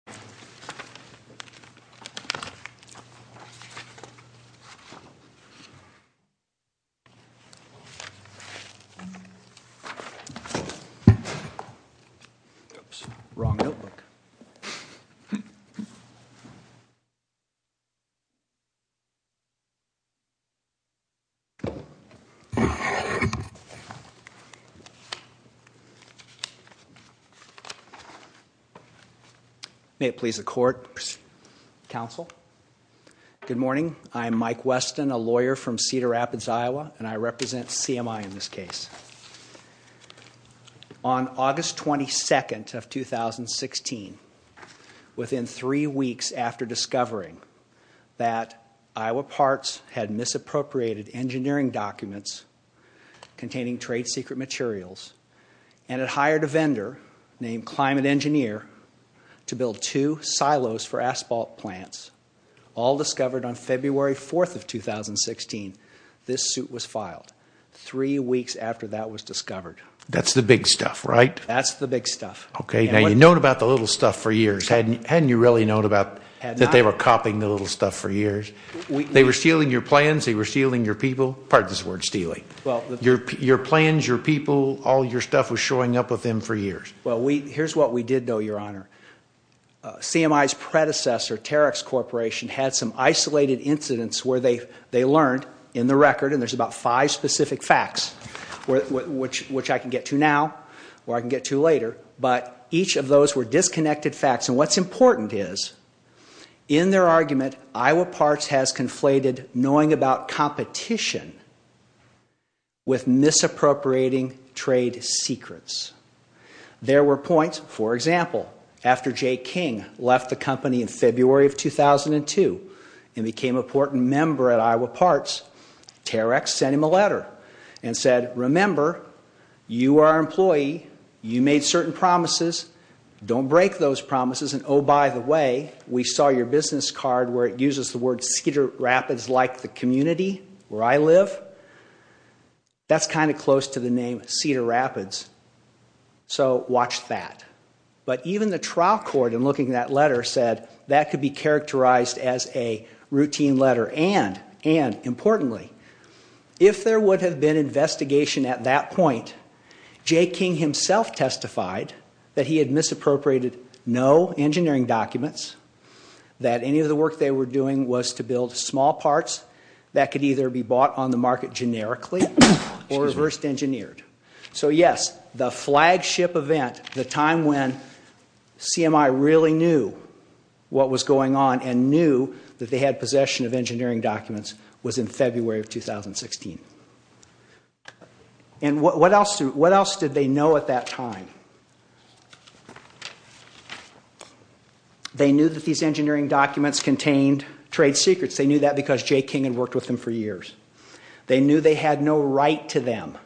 O Mel Royal Houses of Congress. Weber. Mr. Garuth. Ciderteokbokki. Mr. E Yi. Mr. Patience. Mr. Cassidy. Mr. Smith. May it please the court, counsel, good morning. I'm Mike Weston, a lawyer from Cedar Rapids, Iowa, and I represent CMI in this case. On August 22nd of 2016, within three weeks after discovering that Iowa Parts had misappropriated engineering documents containing trade secret materials and had hired a vendor named Climate Engineer to build two silos for asphalt plants, all discovered on February 4th of 2016, this suit was filed. Three weeks after that was discovered. That's the big stuff, right? That's the big stuff. Okay. Now you've known about the little stuff for years. Hadn't you really known about that they were copying the little stuff for years? They were stealing your plans, they were stealing your people, pardon this word, stealing. Your plans, your people, all your stuff was showing up with them for years. Well, here's what we did know, your honor. CMI's predecessor, Terex Corporation, had some isolated incidents where they learned in the record, and there's about five specific facts, which I can get to now, or I can get to later, but each of those were disconnected facts, and what's important is, in their argument, Iowa Parts has conflated knowing about competition with misappropriating trade secrets. There were points, for example, after J. King left the company in February of 2002 and became a portent member at Iowa Parts, Terex sent him a letter and said, remember, you are an employee, you made certain promises, don't break those promises, and oh, by the way, we saw your business card where it uses the word Cedar Rapids like the community where I live, that's kind of close to the name Cedar Rapids, so watch that. But even the trial court, in looking at that letter, said that could be characterized as a routine letter, and importantly, if there would have been investigation at that point, J. King himself testified that he had misappropriated no engineering documents, that any of the work they were doing was to build small parts that could either be bought on the market generically or reversed engineered. So yes, the flagship event, the time when CMI really knew what was going on and knew that they had possession of engineering documents was in February of 2016. And what else did they know at that time? They knew that these engineering documents contained trade secrets, they knew that because J. King had worked with them for years. They knew they had no right to them.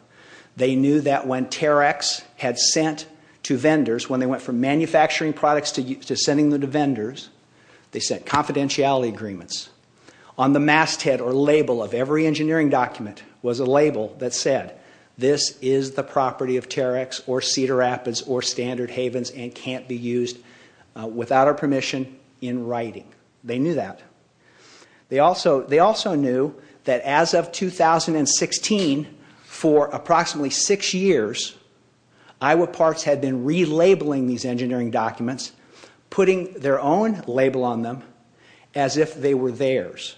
They knew that when Terex had sent to vendors, when they went from manufacturing products to sending them to vendors, they sent confidentiality agreements on the masthead or label of every engineering document was a label that said, this is the property of Terex or Cedar Rapids or Standard Havens and can't be used without our permission in writing. They knew that. They also knew that as of 2016, for approximately six years, Iowa Parks had been relabeling these engineering documents, putting their own label on them as if they were theirs.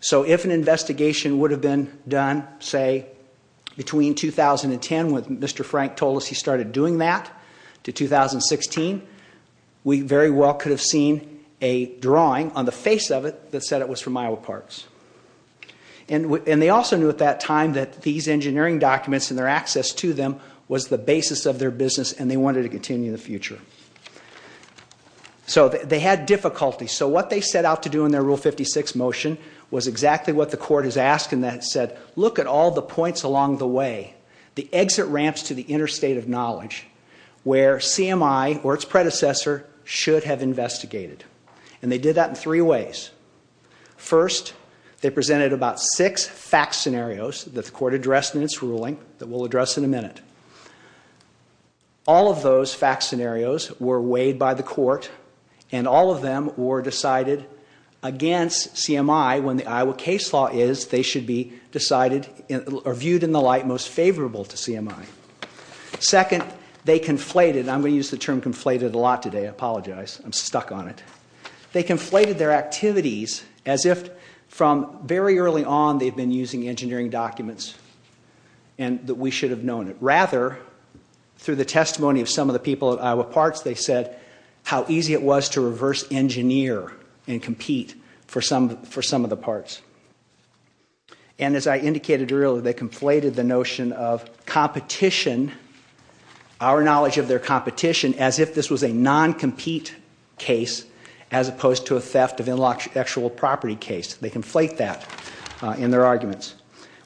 So if an investigation would have been done, say, between 2010 when Mr. Frank told us he started doing that to 2016, we very well could have seen a drawing on the face of it that said it was from Iowa Parks. And they also knew at that time that these engineering documents and their access to them was the basis of their business and they wanted to continue in the future. So they had difficulty. So what they set out to do in their Rule 56 motion was exactly what the court has asked and that said, look at all the points along the way, the exit ramps to the interstate of knowledge where CMI or its predecessor should have investigated. And they did that in three ways. First, they presented about six fact scenarios that the court addressed in its ruling that we'll address in a minute. All of those fact scenarios were weighed by the court and all of them were decided against CMI when the Iowa case law is they should be decided or viewed in the light most favorable to CMI. Second, they conflated, and I'm going to use the term conflated a lot today, I apologize, I'm stuck on it. They conflated their activities as if from very early on they've been using engineering documents and that we should have known it. Rather, through the testimony of some of the people at Iowa Parts, they said how easy it was to reverse engineer and compete for some of the parts. And as I indicated earlier, they conflated the notion of competition, our knowledge of their competition, as if this was a non-compete case as opposed to a theft of intellectual property case. They conflate that in their arguments.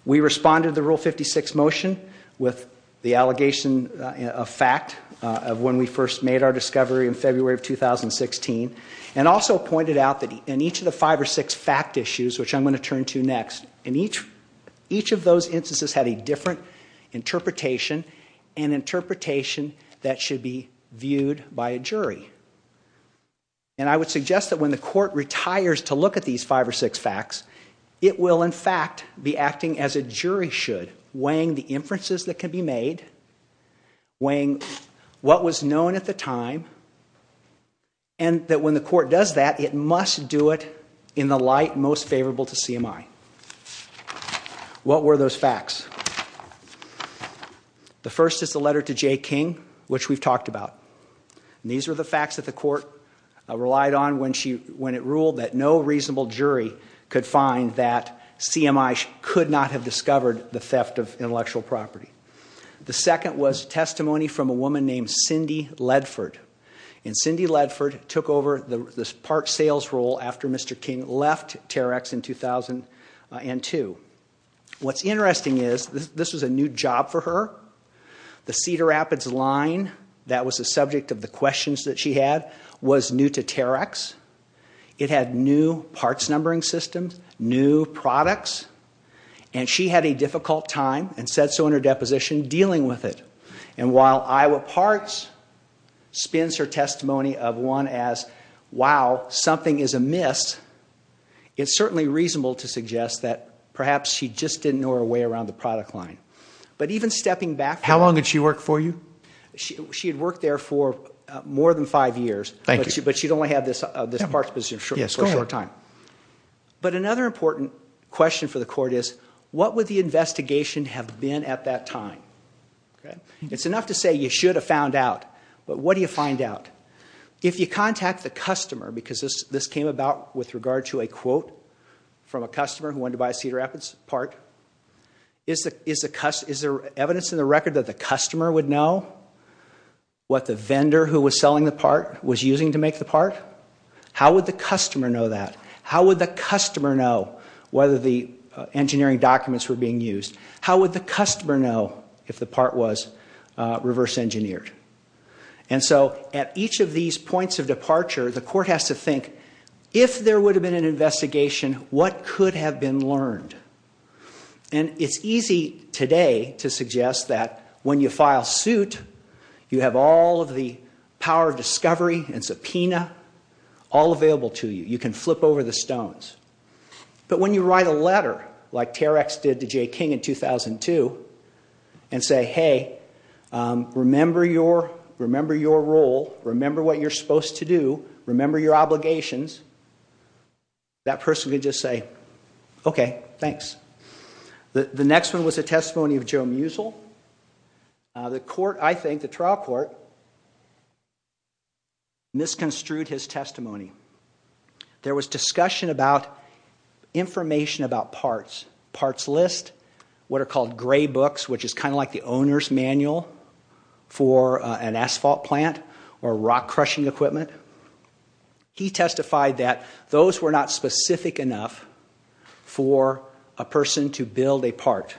We responded to the Rule 56 motion with the allegation of fact of when we first made our discovery in February of 2016 and also pointed out that in each of the five or six fact issues, which I'm going to turn to next, in each of those instances had a different interpretation, And I would suggest that when the court retires to look at these five or six facts, it will in fact be acting as a jury should, weighing the inferences that can be made, weighing what was known at the time, and that when the court does that, it must do it in the light most favorable to CMI. What were those facts? The first is the letter to J. King, which we've talked about. These were the facts that the court relied on when it ruled that no reasonable jury could find that CMI could not have discovered the theft of intellectual property. The second was testimony from a woman named Cindy Ledford. And Cindy Ledford took over the part sales role after Mr. King left T.E.R.E.X. in 2002. What's interesting is, this was a new job for her. The Cedar Rapids line that was the subject of the questions that she had was new to T.E.R.E.X. It had new parts numbering systems, new products, and she had a difficult time, and said so in her deposition, dealing with it. And while Iowa Parts spins her testimony of one as, wow, something is amiss, it's certainly reasonable to suggest that perhaps she just didn't know her way around the product line. But even stepping back... How long did she work for you? She had worked there for more than five years. Thank you. But she'd only had this parts position for a short time. But another important question for the court is, what would the investigation have been at that time? It's enough to say you should have found out, but what do you find out? If you contact the customer, because this came about with regard to a quote from a customer who wanted to buy a Cedar Rapids part, is there evidence in the record that the customer would know what the vendor who was selling the part was using to make the part? How would the customer know that? How would the customer know whether the engineering documents were being used? How would the customer know if the part was reverse engineered? And so at each of these points of departure, the court has to think, if there would have been an investigation, what could have been learned? And it's easy today to suggest that when you file suit, you have all of the power of discovery and subpoena all available to you. You can flip over the stones. But when you write a letter, like Terex did to Jay King in 2002, and say, hey, remember your role, remember what you're supposed to do, remember your obligations, that person could just say, okay, thanks. The next one was a testimony of Joe Musil. The court, I think, the trial court, misconstrued his testimony. There was discussion about information about parts, parts list, what are called gray books, which is kind of like the owner's manual for an asphalt plant or rock crushing equipment. He testified that those were not specific enough for a person to build a part.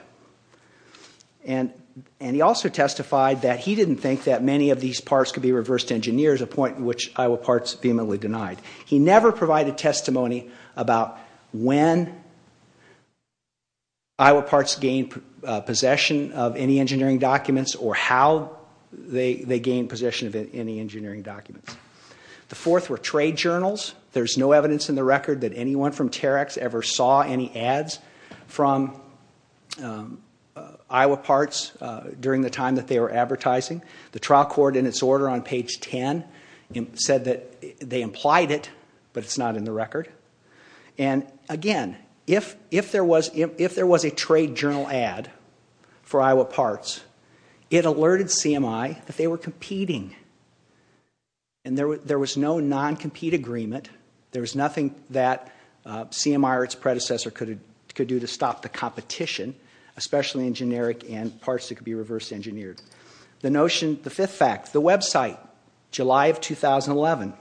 And he also testified that he didn't think that many of these parts could be reversed engineered, a point which Iowa Parts vehemently denied. He never provided testimony about when Iowa Parts gained possession of any engineering documents or how they gained possession of any engineering documents. The fourth were trade journals. There's no evidence in the record that anyone from Terex ever saw any ads from Iowa Parts during the time that they were advertising. The trial court, in its order on page 10, said that they implied it, but it's not in the record. And again, if there was a trade journal ad for Iowa Parts, it alerted CMI that they were competing. And there was no non-compete agreement. There was nothing that CMI or its predecessor could do to stop the competition, especially in generic and parts that could be reversed engineered. The notion, the fifth fact, the website, July of 2011.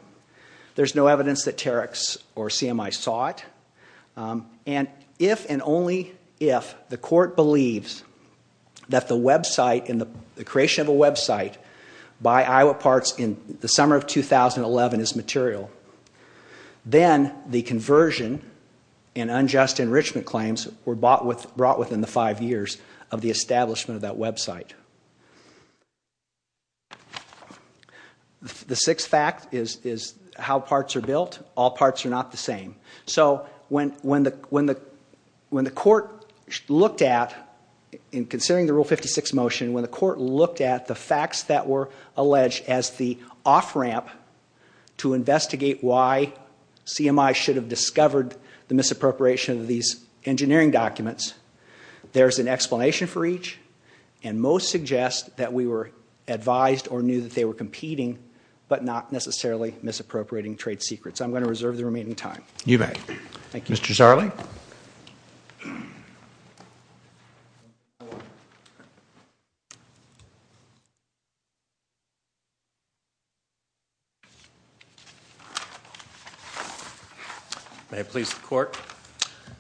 There's no evidence that Terex or CMI saw it. And if and only if the court believes that the website and the creation of a website by Iowa Parts in the summer of 2011 is material, then the conversion and unjust enrichment claims were brought within the five years of the establishment of that website. The sixth fact is how parts are built. All parts are not the same. So when the court looked at, in considering the Rule 56 motion, when the court looked at the facts that were alleged as the off-ramp to investigate why CMI should have discovered the misappropriation of these engineering documents, there's an explanation for each. And most suggest that we were advised or knew that they were competing, but not necessarily misappropriating trade secrets. I'm going to reserve the remaining time. You may. Thank you. Mr. Zarley. May it please the court.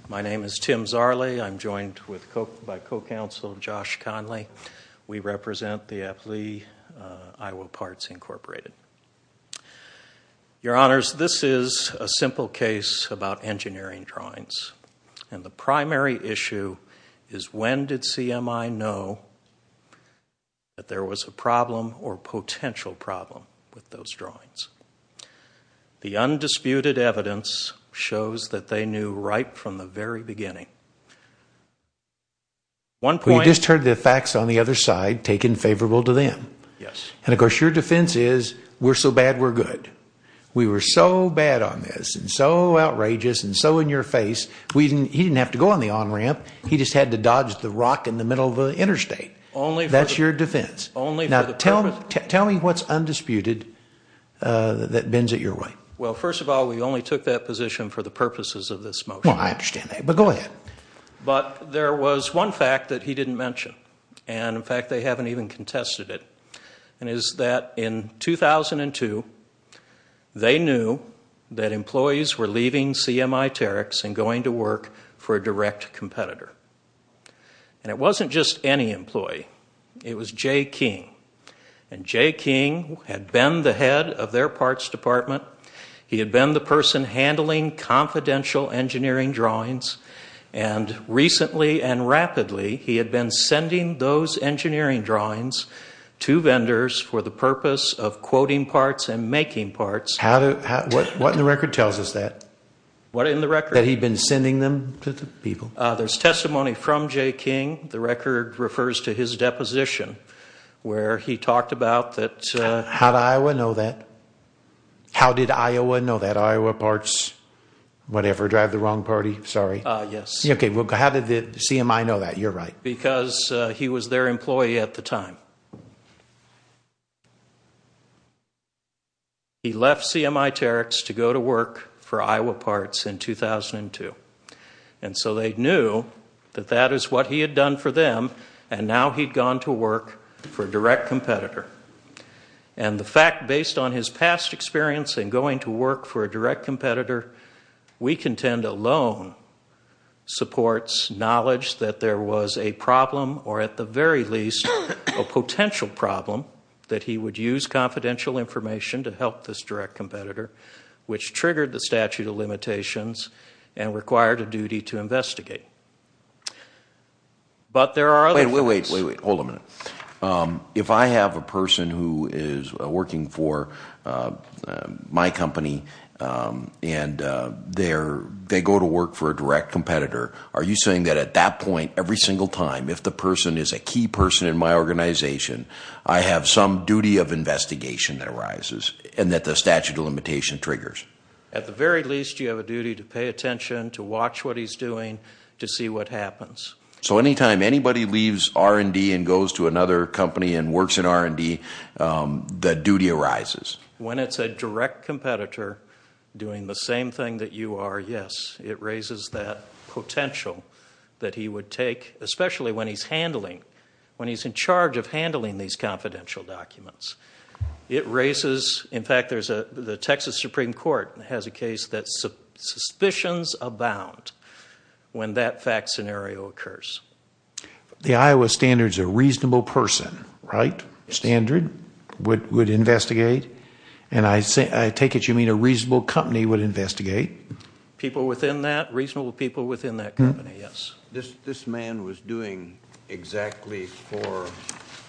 My name is Tim Zarley. I'm joined by co-counsel Josh Conley. We represent the APLI, Iowa Parts Incorporated. Your Honors, this is a simple case about engineering drawings. And the primary issue is when did CMI know that there was a problem or potential problem with those drawings? The undisputed evidence shows that they knew right from the very beginning. You just heard the facts on the other side taken favorable to them. Yes. And, of course, your defense is we're so bad, we're good. We were so bad on this and so outrageous and so in your face, he didn't have to go on the on-ramp. He just had to dodge the rock in the middle of the interstate. That's your defense. Now, tell me what's undisputed that bends it your way. Well, first of all, we only took that position for the purposes of this motion. Well, I understand that. But go ahead. But there was one fact that he didn't mention. And, in fact, they haven't even contested it. And it is that in 2002, they knew that employees were leaving CMI Terex and going to work for a direct competitor. And it wasn't just any employee. It was Jay King. And Jay King had been the head of their parts department. He had been the person handling confidential engineering drawings. And recently and rapidly, he had been sending those engineering drawings to vendors for the purpose of quoting parts and making parts. What in the record tells us that? What in the record? That he'd been sending them to the people. There's testimony from Jay King. The record refers to his deposition where he talked about that. How did Iowa know that? How did Iowa know that? Iowa Parts, whatever, drive the wrong party. Sorry. Yes. Okay. How did CMI know that? You're right. Because he was their employee at the time. He left CMI Terex to go to work for Iowa Parts in 2002. And so they knew that that is what he had done for them, and now he'd gone to work for a direct competitor. And the fact, based on his past experience in going to work for a direct competitor, we contend alone supports knowledge that there was a problem, or at the very least a potential problem, that he would use confidential information to help this direct competitor, which triggered the statute of limitations and required a duty to investigate. But there are other things. Wait, wait, wait, wait. Hold a minute. If I have a person who is working for my company and they go to work for a direct competitor, are you saying that at that point, every single time, if the person is a key person in my organization, I have some duty of investigation that arises and that the statute of limitation triggers? At the very least, you have a duty to pay attention, to watch what he's doing, to see what happens. So anytime anybody leaves R&D and goes to another company and works in R&D, the duty arises? When it's a direct competitor doing the same thing that you are, yes. It raises that potential that he would take, especially when he's handling, when he's in charge of handling these confidential documents. It raises, in fact, the Texas Supreme Court has a case that suspicions abound when that fact scenario occurs. The Iowa standard is a reasonable person, right? Standard, would investigate, and I take it you mean a reasonable company would investigate? People within that, reasonable people within that company, yes. This man was doing exactly for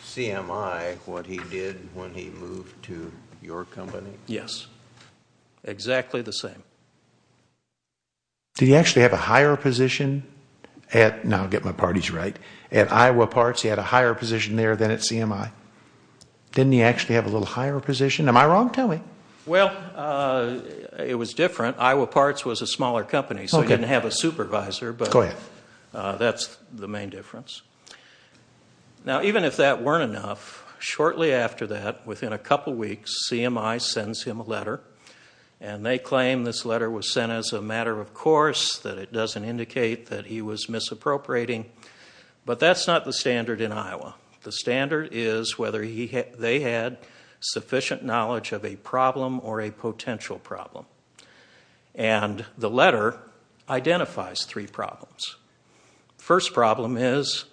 CMI what he did when he moved to your company? Yes, exactly the same. Did he actually have a higher position at, now I'll get my parties right, at Iowa Parts, he had a higher position there than at CMI? Didn't he actually have a little higher position? Am I wrong? Tell me. Well, it was different. Iowa Parts was a smaller company, so he didn't have a supervisor, but that's the main difference. Now, even if that weren't enough, shortly after that, within a couple weeks, CMI sends him a letter, and they claim this letter was sent as a matter of course, that it doesn't indicate that he was misappropriating, but that's not the standard in Iowa. The standard is whether they had sufficient knowledge of a problem or a potential problem, and the letter identifies three problems. First problem is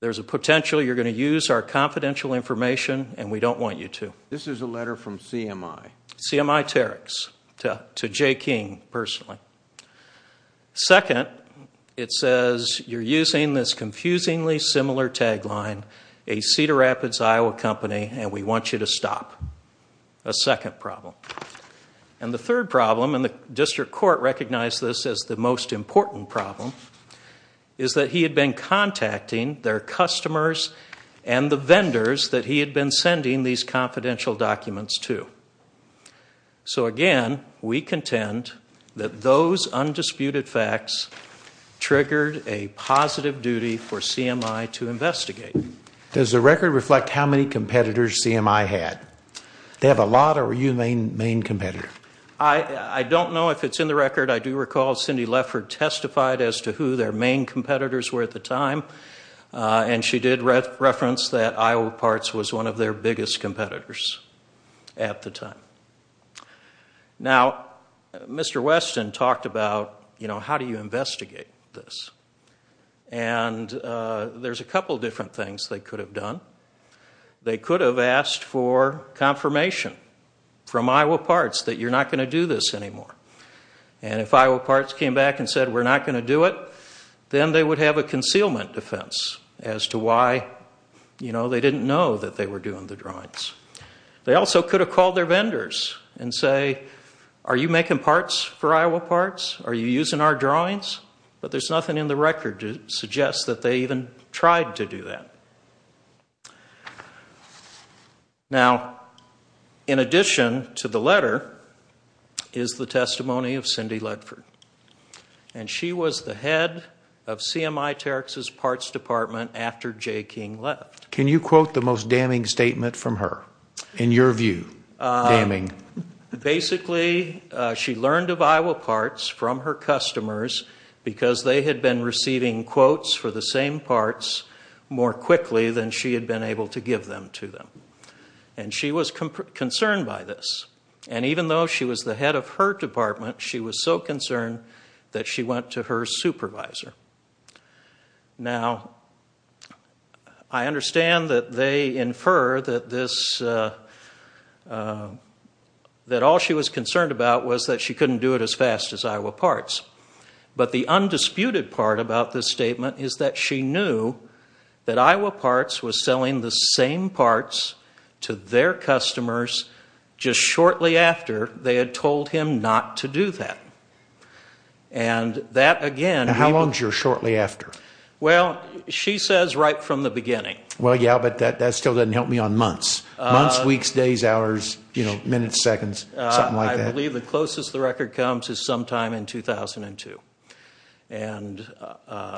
there's a potential you're going to use our confidential information, and we don't want you to. This is a letter from CMI. CMI-Terex, to Jay King, personally. Second, it says you're using this confusingly similar tagline, a Cedar Rapids, Iowa company, and we want you to stop. A second problem. And the third problem, and the district court recognized this as the most important problem, is that he had been contacting their customers and the vendors that he had been sending these confidential documents to. So again, we contend that those undisputed facts triggered a positive duty for CMI to investigate. Does the record reflect how many competitors CMI had? They have a lot, or were you the main competitor? I don't know if it's in the record. I do recall Cindy Leffert testified as to who their main competitors were at the time, and she did reference that Iowa Parts was one of their biggest competitors at the time. Now, Mr. Weston talked about, you know, how do you investigate this? And there's a couple different things they could have done. They could have asked for confirmation from Iowa Parts that you're not going to do this anymore. And if Iowa Parts came back and said we're not going to do it, then they would have a concealment defense as to why, you know, they didn't know that they were doing the drawings. They also could have called their vendors and say, are you making parts for Iowa Parts? Are you using our drawings? But there's nothing in the record to suggest that they even tried to do that. Now, in addition to the letter is the testimony of Cindy Leffert. And she was the head of CMI Terex's parts department after J. King left. Can you quote the most damning statement from her, in your view, damning? Basically, she learned of Iowa Parts from her customers because they had been receiving quotes for the same parts more quickly than she had been able to give them to them. And she was concerned by this. And even though she was the head of her department, she was so concerned that she went to her supervisor. Now, I understand that they infer that this, that all she was concerned about was that she couldn't do it as fast as Iowa Parts. But the undisputed part about this statement is that she knew that Iowa Parts was selling the same parts to their customers just shortly after they had told him not to do that. And that, again... And how long is your shortly after? Well, she says right from the beginning. Well, yeah, but that still doesn't help me on months. Months, weeks, days, hours, minutes, seconds, something like that. I believe the closest the record comes is sometime in 2002. And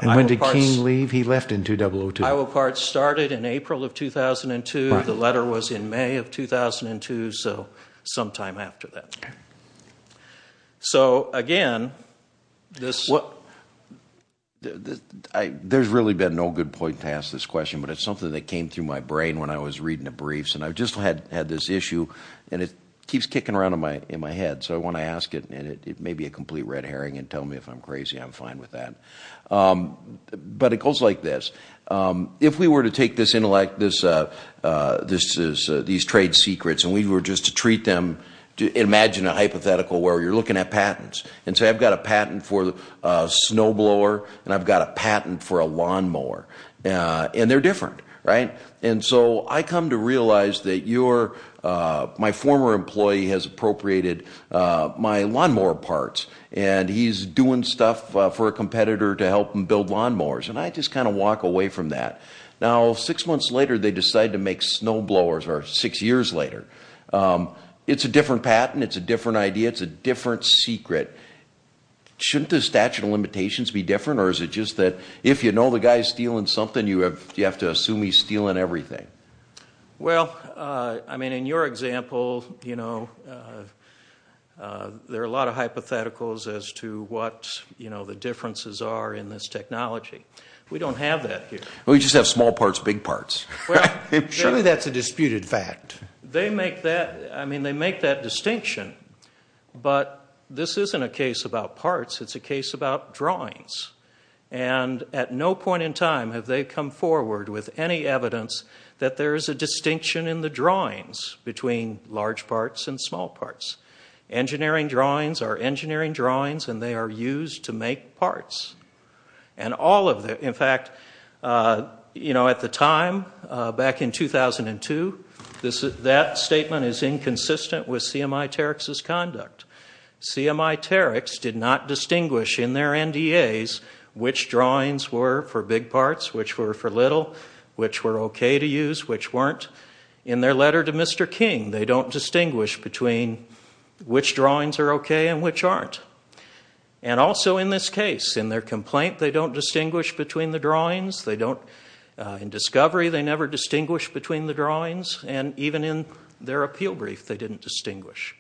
when did King leave? He left in 2002. Iowa Parts started in April of 2002. The letter was in May of 2002, so sometime after that. So, again, this... There's really been no good point to ask this question, but it's something that came through my brain when I was reading the briefs. And I just had this issue, and it keeps kicking around in my head. So I want to ask it, and it may be a complete red herring, and tell me if I'm crazy, I'm fine with that. But it goes like this. If we were to take this intellect, these trade secrets, and we were just to treat them... Imagine a hypothetical where you're looking at patents. And say, I've got a patent for a snowblower, and I've got a patent for a lawnmower. And they're different, right? And so I come to realize that you're... My former employee has appropriated my lawnmower parts, and he's doing stuff for a competitor to help him build lawnmowers. And I just kind of walk away from that. Now, six months later, they decide to make snowblowers, or six years later. It's a different patent, it's a different idea, it's a different secret. Shouldn't the statute of limitations be different, or is it just that if you know the guy's stealing something, you have to assume he's stealing everything? Well, I mean, in your example, you know, there are a lot of hypotheticals as to what the differences are in this technology. We don't have that here. We just have small parts, big parts. Surely that's a disputed fact. They make that distinction, but this isn't a case about parts, it's a case about drawings. And at no point in time have they come forward with any evidence that there is a distinction in the drawings between large parts and small parts. Engineering drawings are engineering drawings, and they are used to make parts. And all of the... In fact, you know, at the time, back in 2002, that statement is inconsistent with CMI-Terex's conduct. CMI-Terex did not distinguish in their NDAs which drawings were for big parts, which were for little, which were OK to use, which weren't. In their letter to Mr. King, they don't distinguish between which drawings are OK and which aren't. And also in this case, in their complaint, they don't distinguish between the drawings, they don't... In discovery, they never distinguish between the drawings, and even in their appeal brief, they didn't distinguish.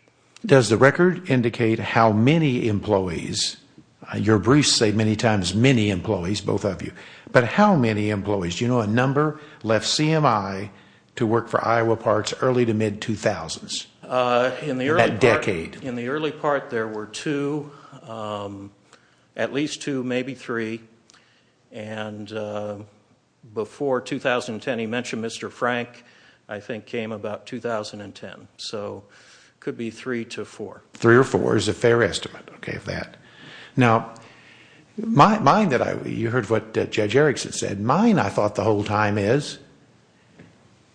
Does the record indicate how many employees... Your briefs say many times many employees, both of you, but how many employees? Do you know a number left CMI to work for Iowa Parts early to mid-2000s, in that decade? In the early part, there were two, at least two, maybe three. And before 2010, he mentioned Mr. Frank, I think came about 2010. So it could be three to four. Three or four is a fair estimate, OK, of that. Now, mine that I... You heard what Judge Erickson said. Mine, I thought, the whole time is...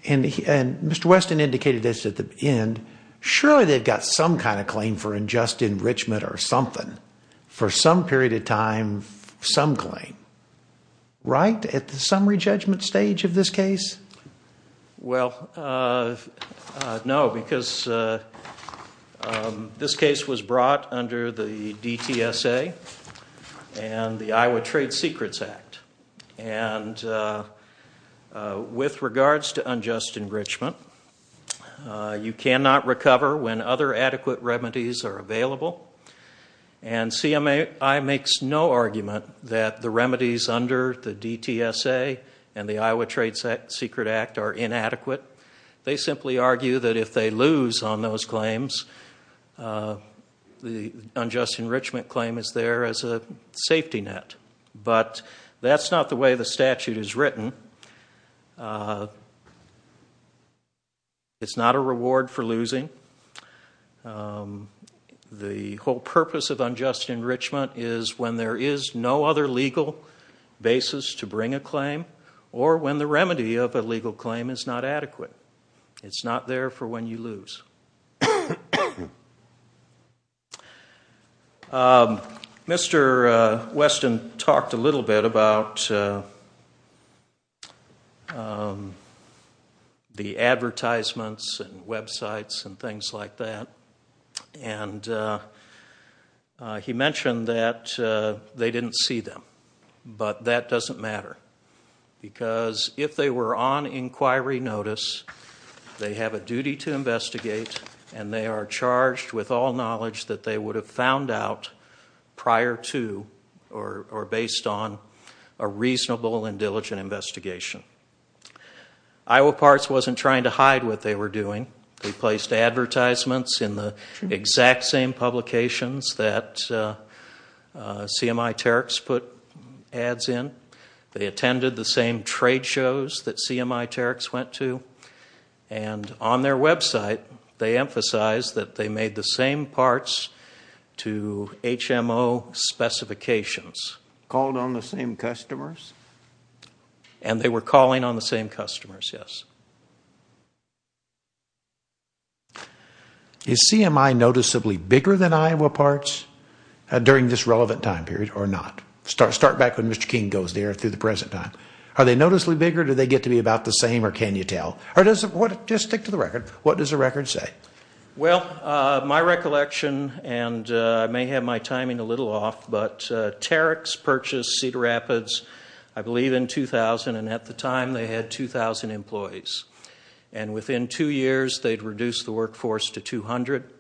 And Mr. Weston indicated this at the end. Surely they've got some kind of claim for unjust enrichment or something. For some period of time, some claim. Right at the summary judgment stage of this case? Well, no, because this case was brought under the DTSA and the Iowa Trade Secrets Act. And with regards to unjust enrichment, you cannot recover when other adequate remedies are available. And CMI makes no argument that the remedies under the DTSA and the Iowa Trade Secrets Act are inadequate. They simply argue that if they lose on those claims, the unjust enrichment claim is there as a safety net. But that's not the way the statute is written. It's not a reward for losing. The whole purpose of unjust enrichment is when there is no other legal basis to bring a claim or when the remedy of a legal claim is not adequate. It's not there for when you lose. Mr. Weston talked a little bit about the advertisements and websites and things like that. And he mentioned that they didn't see them. But that doesn't matter. Because if they were on inquiry notice, they have a duty to investigate, and they are charged with all knowledge that they would have found out prior to or based on a reasonable and diligent investigation. Iowa Parts wasn't trying to hide what they were doing. They placed advertisements in the exact same publications that CMI-Terex put ads in. They attended the same trade shows that CMI-Terex went to. And on their website, they emphasized that they made the same parts to HMO specifications. Called on the same customers? And they were calling on the same customers, yes. Is CMI noticeably bigger than Iowa Parts during this relevant time period or not? Start back when Mr. King goes there through the present time. Are they noticeably bigger? Do they get to be about the same or can you tell? Just stick to the record. What does the record say? Well, my recollection, and I may have my timing a little off, but Terex purchased Cedar Rapids, I believe, in 2000. And at the time, they had 2,000 employees. And within two years, they'd reduced the workforce to 200.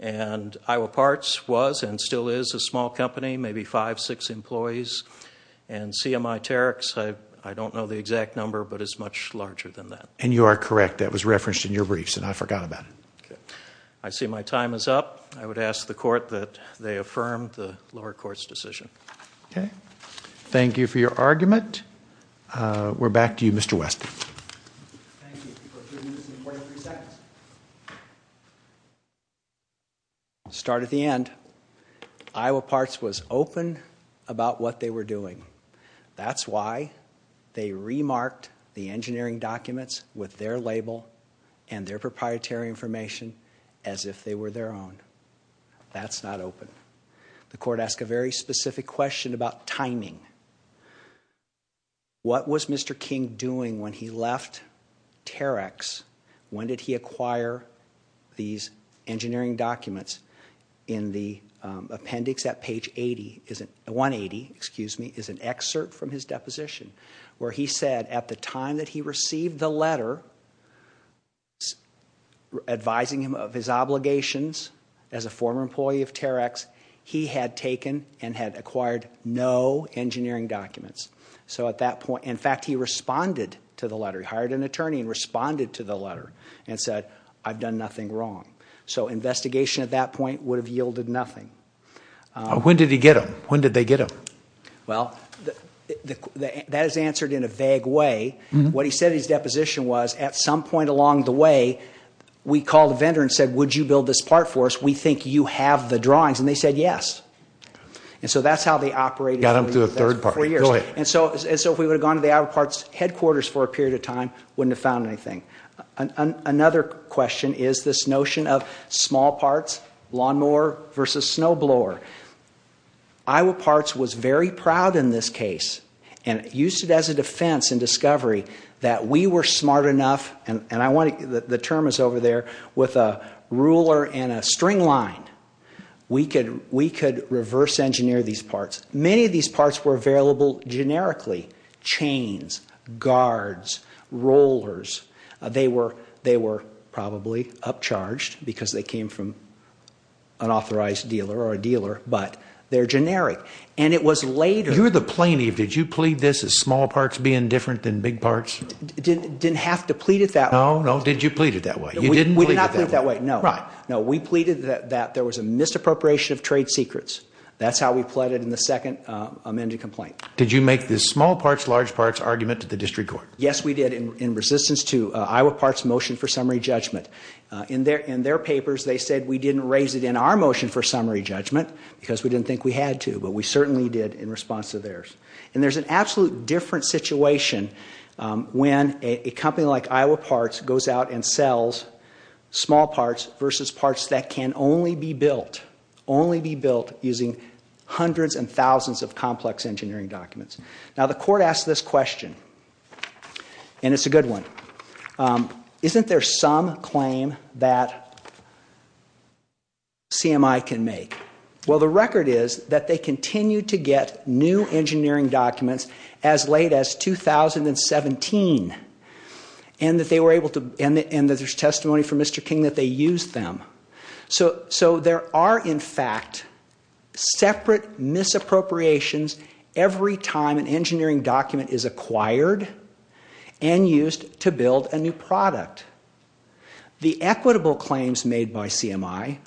And Iowa Parts was and still is a small company, maybe five, six employees. And CMI-Terex, I don't know the exact number, but it's much larger than that. And you are correct. That was referenced in your briefs and I forgot about it. Okay. I see my time is up. I would ask the court that they affirm the lower court's decision. Okay. Thank you for your argument. We're back to you, Mr. West. Thank you. We'll continue this in 43 seconds. Start at the end. Iowa Parts was open about what they were doing. That's why they remarked the engineering documents with their label and their proprietary information as if they were their own. That's not open. The court asked a very specific question about timing. What was Mr. King doing when he left Terex? When did he acquire these engineering documents? In the appendix at page 180 is an excerpt from his deposition where he said at the time that he received the letter advising him of his obligations as a former employee of Terex, he had taken and had acquired no engineering documents. So at that point, in fact, he responded to the letter. He hired an attorney and responded to the letter and said, I've done nothing wrong. So investigation at that point would have yielded nothing. When did he get them? When did they get them? Well, that is answered in a vague way. What he said in his deposition was at some point along the way, we called a vendor and said, would you build this part for us? We think you have the drawings. And they said yes. And so that's how they operated for four years. And so if we would have gone to the Iowa Parts headquarters for a period of time, we wouldn't have found anything. Another question is this notion of small parts, lawnmower versus snowblower. Iowa Parts was very proud in this case and used it as a defense in discovery that we were smart enough, and the term is over there, with a ruler and a string line, we could reverse engineer these parts. Many of these parts were available generically. Chains, guards, rollers, they were probably upcharged because they came from an authorized dealer or a dealer, but they're generic. You're the plaintiff. Did you plead this as small parts being different than big parts? Didn't have to plead it that way. No, no, did you plead it that way? We did not plead it that way, no. We pleaded that there was a misappropriation of trade secrets. That's how we pleaded in the second amended complaint. Did you make this small parts, large parts argument to the district court? Yes, we did in resistance to Iowa Parts' motion for summary judgment. In their papers, they said we didn't raise it in our motion for summary judgment because we didn't think we had to, but we certainly did in response to theirs. And there's an absolute different situation when a company like Iowa Parts goes out and sells small parts versus parts that can only be built, only be built using hundreds and thousands of complex engineering documents. Now, the court asked this question, and it's a good one. Isn't there some claim that CMI can make? Well, the record is that they continue to get new engineering documents as late as 2017 and that there's testimony from Mr. King that they use them. So there are, in fact, separate misappropriations every time an engineering document is acquired and used to build a new product. The equitable claims made by CMI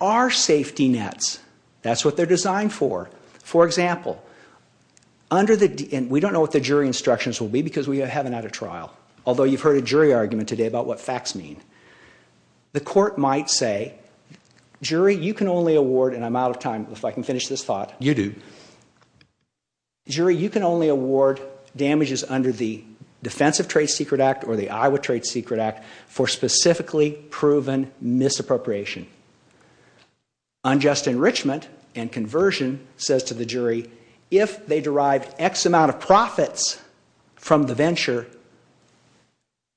are safety nets. That's what they're designed for. For example, we don't know what the jury instructions will be because we haven't had a trial, although you've heard a jury argument today about what facts mean. The court might say, jury, you can only award, and I'm out of time if I can finish this thought. You do. Jury, you can only award damages under the Defensive Trade Secret Act or the Iowa Trade Secret Act for specifically proven misappropriation. Unjust enrichment and conversion says to the jury if they derive X amount of profits from the venture,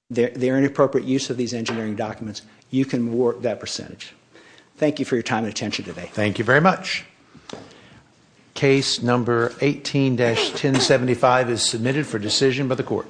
the inappropriate use of these engineering documents, you can award that percentage. Thank you for your time and attention today. Thank you very much. Case number 18-1075 is submitted for decision by the court.